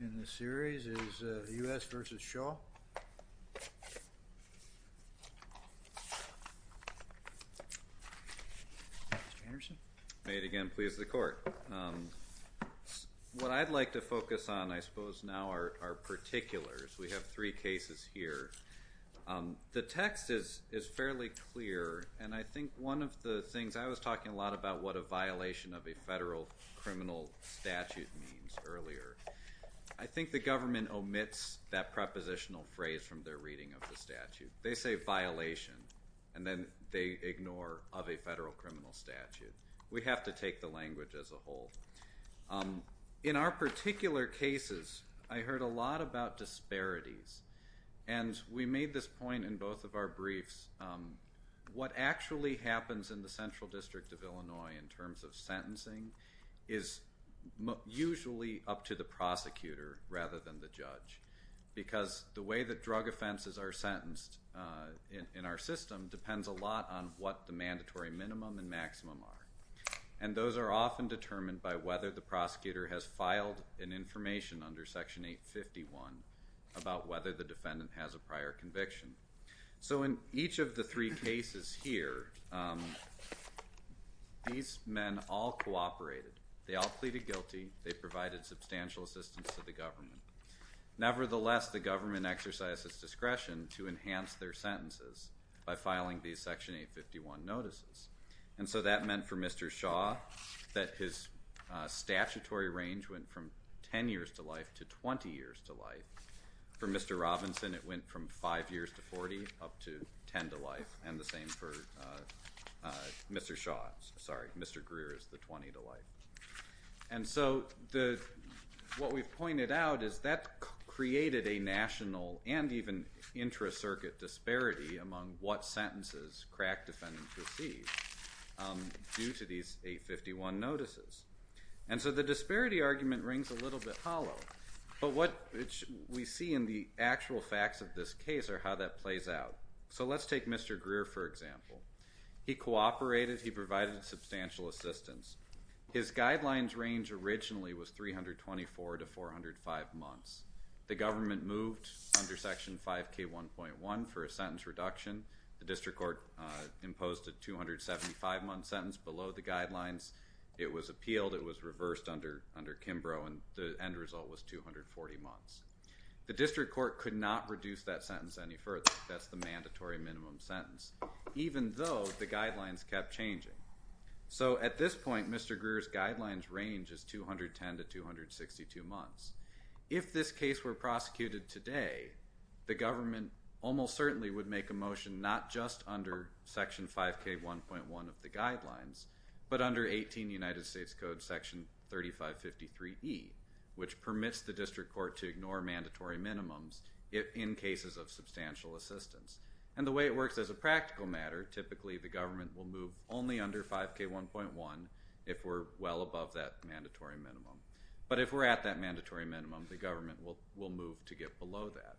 in the series is the US v. Shaw. May it again please the court. What I'd like to focus on I suppose now are our particulars. We have three cases here. The text is is fairly clear and I think one of the things I was talking a lot about what a violation of a federal criminal statute means earlier. I think the government omits that prepositional phrase from their reading of the statute. They say violation and then they ignore of a federal criminal statute. We have to take the language as a whole. In our particular cases I heard a lot about disparities and we made this point in both of our briefs. What actually happens in the Central District of Illinois in terms of sentencing is usually up to the prosecutor rather than the judge. Because the way that drug offenses are sentenced in our system depends a lot on what the mandatory minimum and maximum are. And those are often determined by whether the prosecutor has filed an information under section 851 about whether the defendant has a prior conviction. So in each of the three cases here these men all cooperated. They all pleaded guilty. They provided substantial assistance to the government. Nevertheless the government exercises discretion to enhance their sentences by filing these section 851 notices. And so that meant for Mr. Shaw that his statutory range went from 10 years to life to 20 years to life. For five years to 40 up to 10 to life. And the same for Mr. Shaw. Sorry Mr. Greer is the 20 to life. And so the what we've pointed out is that created a national and even intra-circuit disparity among what sentences crack defendants received due to these 851 notices. And so the disparity argument rings a little bit case or how that plays out. So let's take Mr. Greer for example. He cooperated. He provided substantial assistance. His guidelines range originally was 324 to 405 months. The government moved under section 5k 1.1 for a sentence reduction. The district court imposed a 275 month sentence below the guidelines. It was appealed. It was reversed under Kimbrough and the end result was 240 months. The district court could not reduce that sentence any further. That's the mandatory minimum sentence even though the guidelines kept changing. So at this point Mr. Greer's guidelines range is 210 to 262 months. If this case were prosecuted today the government almost certainly would make a motion not just under section 5k 1.1 of the guidelines but under 18 United States Code section 3553E which permits the district court to ignore mandatory minimums in cases of substantial assistance. And the way it works as a practical matter typically the government will move only under 5k 1.1 if we're well above that mandatory minimum. But if we're at that mandatory minimum the government will move to get below that.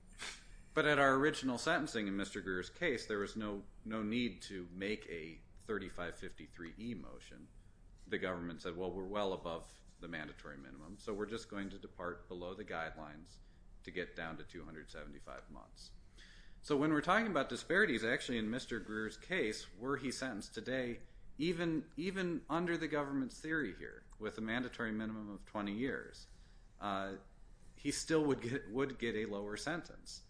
But at our original sentencing in Mr. Greer's case there was no need to make a 3553E motion. The people were well above the mandatory minimum. So we're just going to depart below the guidelines to get down to 275 months. So when we're talking about disparities actually in Mr. Greer's case were he sentenced today even under the government's theory here with a mandatory minimum of 20 years he still would get a lower sentence.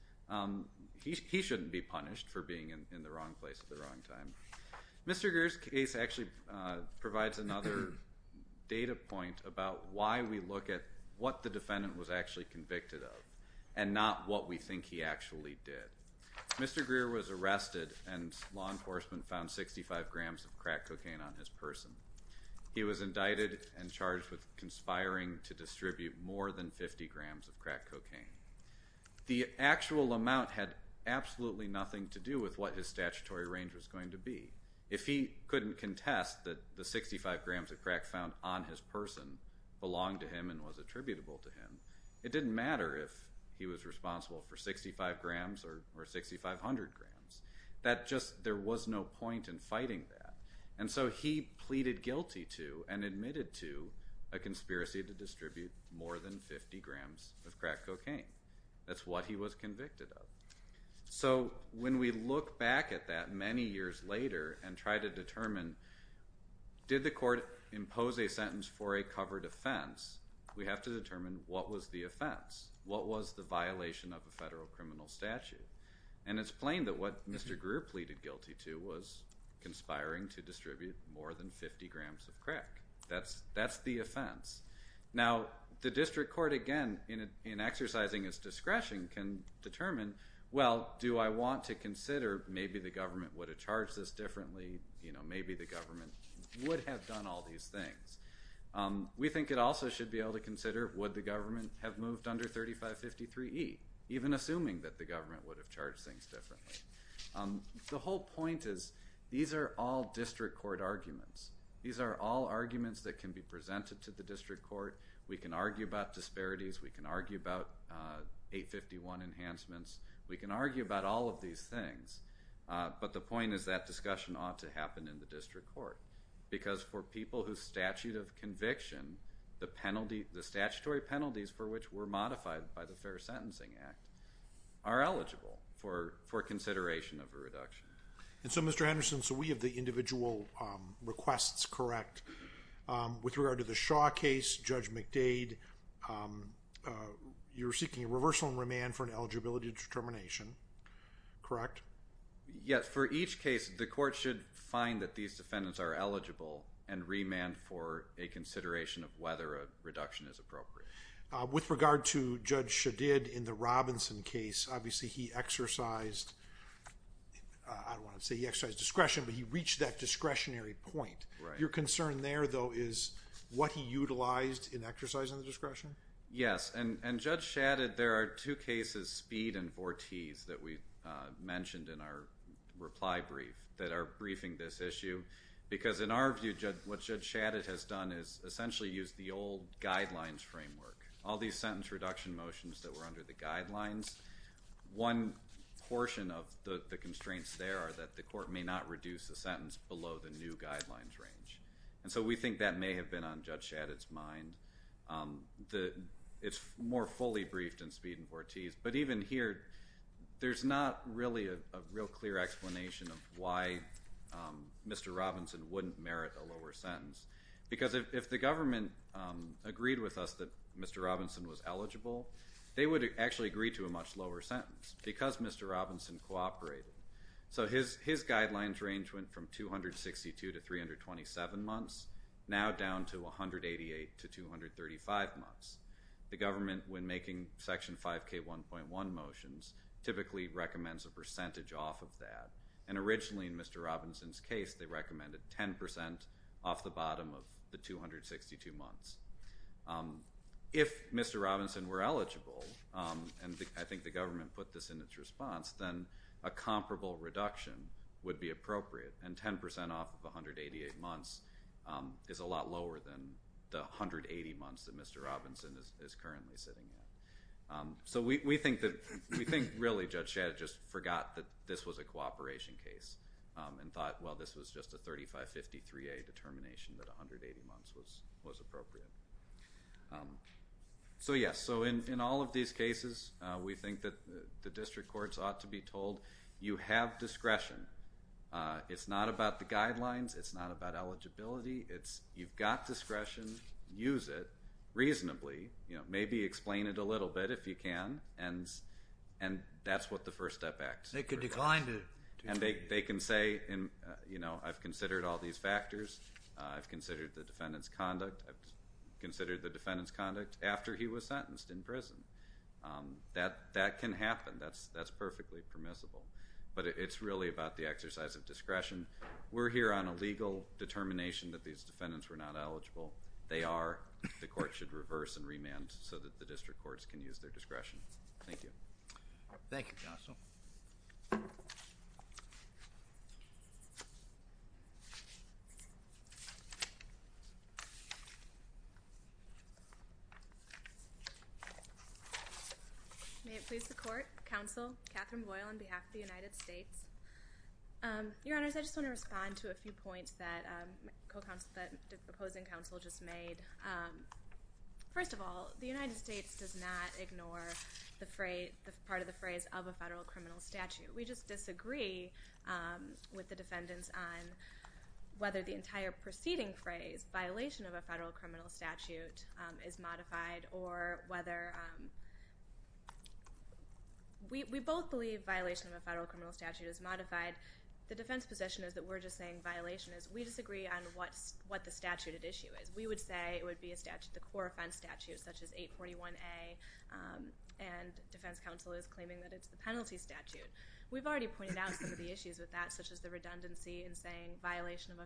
He shouldn't be punished for being in the wrong place at the wrong time. Mr. Greer's case actually provides another data point about why we look at what the defendant was actually convicted of and not what we think he actually did. Mr. Greer was arrested and law enforcement found 65 grams of crack cocaine on his person. He was indicted and charged with conspiring to distribute more than 50 grams of crack cocaine. The actual amount had absolutely nothing to do with what his statutory range was going to be. If he couldn't contest that the 65 grams of crack found on his person belonged to him and was attributable to him it didn't matter if he was responsible for 65 grams or 6,500 grams. That just there was no point in fighting that. And so he pleaded guilty to and admitted to a conspiracy to distribute more than 50 grams of crack cocaine. That's what he was convicted of. So when we look back at that many years later and try to determine did the court impose a sentence for a covered offense we have to determine what was the offense. What was the violation of a federal criminal statute? And it's plain that what Mr. Greer pleaded guilty to was conspiring to distribute more than 50 grams of crack cocaine. And again in exercising his discretion can determine well do I want to consider maybe the government would have charged this differently you know maybe the government would have done all these things. We think it also should be able to consider would the government have moved under 3553 E even assuming that the government would have charged things differently. The whole point is these are all district court arguments. These are all arguments that can be presented to the district court. We can argue about disparities. We can argue about 851 enhancements. We can argue about all of these things but the point is that discussion ought to happen in the district court because for people whose statute of conviction the penalty the statutory penalties for which were modified by the Fair Sentencing Act are eligible for for consideration of a reduction. And so Mr. Henderson so we have the individual requests correct with regard to the Shaw case Judge McDade you're seeking a reversal and remand for an eligibility determination correct? Yes for each case the court should find that these defendants are eligible and remand for a consideration of whether a reduction is appropriate. With regard to Judge Shadid in the Robinson case obviously he exercised I don't want to say he exercised discretion but he concern there though is what he utilized in exercising the discretion? Yes and and Judge Shadid there are two cases Speed and Vortese that we mentioned in our reply brief that are briefing this issue because in our view what Judge Shadid has done is essentially used the old guidelines framework. All these sentence reduction motions that were under the guidelines one portion of the constraints there are that the court may not reduce the new guidelines range and so we think that may have been on Judge Shadid's mind the it's more fully briefed in Speed and Vortese but even here there's not really a real clear explanation of why Mr. Robinson wouldn't merit a lower sentence because if the government agreed with us that Mr. Robinson was eligible they would actually agree to a much lower sentence because Mr. Robinson cooperated. So his his guidelines range went from 262 to 327 months now down to 188 to 235 months. The government when making section 5k 1.1 motions typically recommends a percentage off of that and originally in Mr. Robinson's case they recommended 10% off the bottom of the 262 months. If Mr. Robinson were eligible and I think the government put this in its response then a comparable reduction would be appropriate and 10% off of 188 months is a lot lower than the 180 months that Mr. Robinson is currently sitting in. So we think that we think really Judge Shadid just forgot that this was a cooperation case and thought well this was just a 3553a determination that 180 months was was appropriate. So yes so in all of these cases we think that the district courts ought to be told you have discretion. It's not about the guidelines. It's not about eligibility. It's you've got discretion. Use it reasonably. You know maybe explain it a little bit if you can and and that's what the First Step Act. They could decline it. And they can say and you know I've considered all these factors. I've considered the defendant's conduct. I've considered the defendant's conduct after he was sentenced in prison. That that can happen. That's that's perfectly permissible. But it's really about the exercise of discretion. We're here on a legal determination that these defendants were not eligible. They are. The court should reverse and remand so that the district courts can use their discretion. Thank you. Thank you counsel. May it please the court. Counsel Catherine Boyle on behalf of the United States. Your honors I just want to respond to a few points that the opposing counsel just made. First of all the United States does not ignore the phrase the part of the phrase of a federal criminal statute. We just disagree with the defendants on whether the entire preceding phrase violation of a federal criminal statute is modified. The defense position is that we're just saying violation is. We disagree on what what the statute at issue is. We would say it would be a statute the core offense statute such as 841a and defense counsel is claiming that it's the penalty statute. We've already pointed out some of the issues with that such as the redundancy and saying violation of a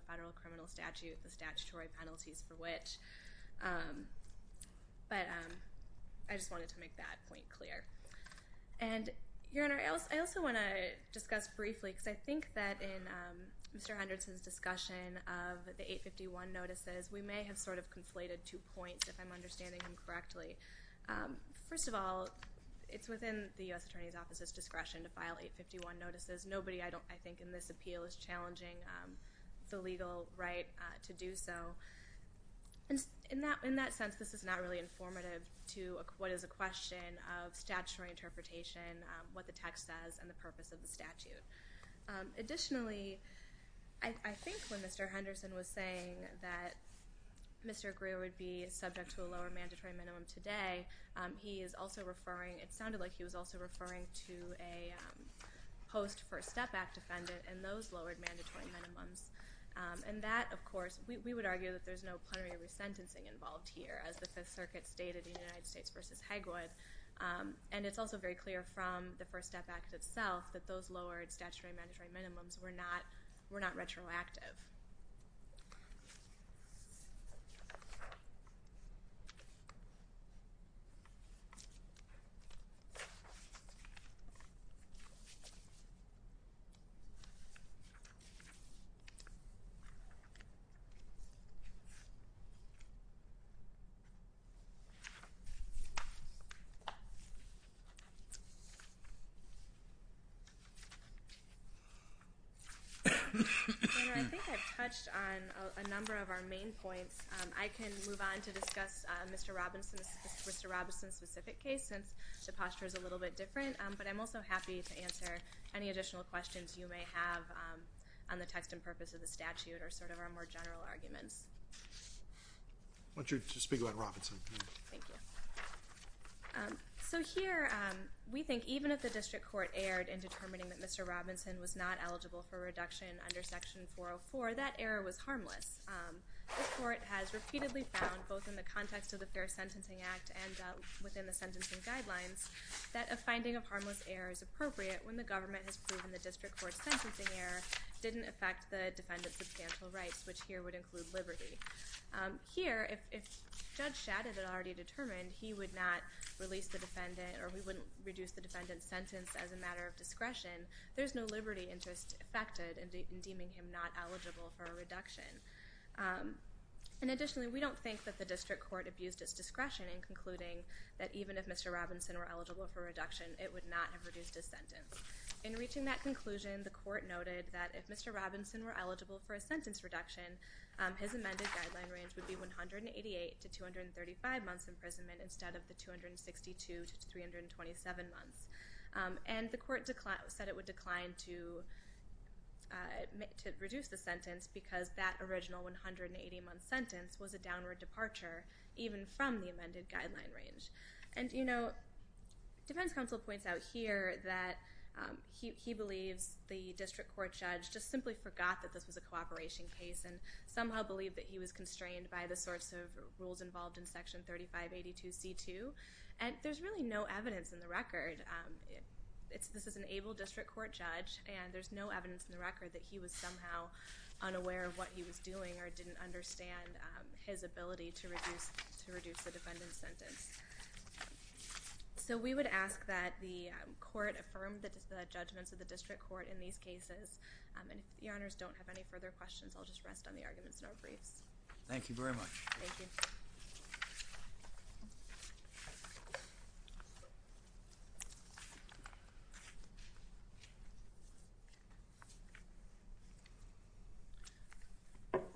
I just wanted to make that point clear. And your honor I also want to discuss briefly because I think that in Mr. Henderson's discussion of the 851 notices we may have sort of conflated two points if I'm understanding him correctly. First of all it's within the US Attorney's Office's discretion to file 851 notices. Nobody I don't I think in this appeal is challenging the legal right to do so. In that in that sense this is not really informative to what is a question of statutory interpretation what the text says and the purpose of the statute. Additionally I think when Mr. Henderson was saying that Mr. Greer would be subject to a lower mandatory minimum today he is also referring it sounded like he was also referring to a post first step back defendant and those lowered mandatory minimums and that of course we would argue that there's no plenary resentencing involved here as the Fifth Circuit stated in United States versus Hegwood and it's also very clear from the First Step Act itself that those lowered statutory mandatory minimums were not were not retroactive. I think I've touched on a number of our main points. I can move on to discuss Mr. Robinson's Mr. Robinson's specific case since the posture is a little bit on the text and purpose of the statute or sort of our more general arguments. I want you to speak about Robinson. So here we think even if the district court erred in determining that Mr. Robinson was not eligible for reduction under section 404 that error was harmless. The court has repeatedly found both in the context of the Fair Sentencing Act and within the sentencing guidelines that a finding of harmless error is appropriate when the government has proven the sentencing error didn't affect the defendant's substantial rights which here would include liberty. Here if Judge Shadid had already determined he would not release the defendant or we wouldn't reduce the defendant's sentence as a matter of discretion there's no liberty interest affected in deeming him not eligible for a reduction. And additionally we don't think that the district court abused its discretion in concluding that even if Mr. Robinson were eligible for reduction it would not have reduced his sentence. In reaching that conclusion the court noted that if Mr. Robinson were eligible for a sentence reduction his amended guideline range would be 188 to 235 months imprisonment instead of the 262 to 327 months. And the court said it would decline to reduce the sentence because that original 180 month sentence was a downward departure even from the amended guideline range. And you know Defense Counsel points out here that he believes the district court judge just simply forgot that this was a cooperation case and somehow believed that he was constrained by the sorts of rules involved in section 3582 C2 and there's really no evidence in the record. This is an able district court judge and there's no evidence in the record that he was somehow unaware of what he was doing or didn't understand his ability to reduce the defendant's sentence. So we would ask that the court affirmed the judgments of the district court in these cases. And if the honors don't have any further questions I'll just rest on the arguments in our briefs. Thank you very much.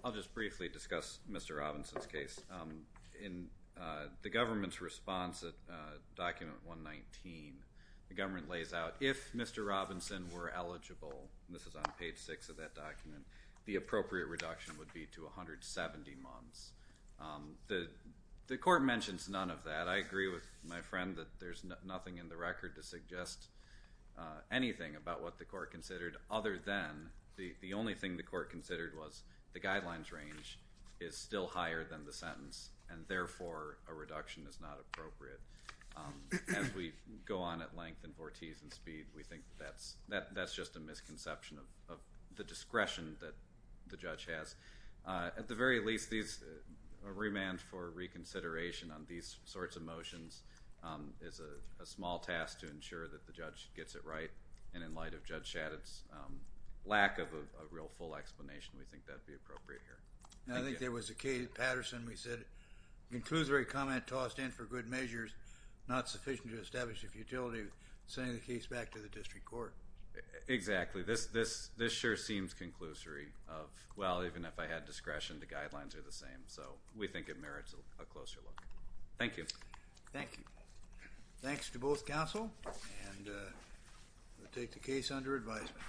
I'll just briefly discuss Mr. Robinson's case. In the government's response at document 119 the government lays out if Mr. Robinson were eligible this is on page 6 of that document the appropriate reduction would be to a reduction of 170 months. The court mentions none of that. I agree with my friend that there's nothing in the record to suggest anything about what the court considered other than the only thing the court considered was the guidelines range is still higher than the sentence and therefore a reduction is not appropriate. As we go on at length and vortices and speed we think that's just a misconception of the discretion that the judge has. At the very least these remand for reconsideration on these sorts of motions is a small task to ensure that the judge gets it right and in light of Judge Shadid's lack of a real full explanation we think that'd be appropriate here. I think there was a case Patterson we said concludes very comment tossed in for good measures not sufficient to establish the futility of sending the case back to the district court. Exactly this this this sure seems conclusory of well even if I had discretion the guidelines are the same so we think it merits a closer look. Thank you. Thank you. Thanks to both counsel and we'll take the case under advisement.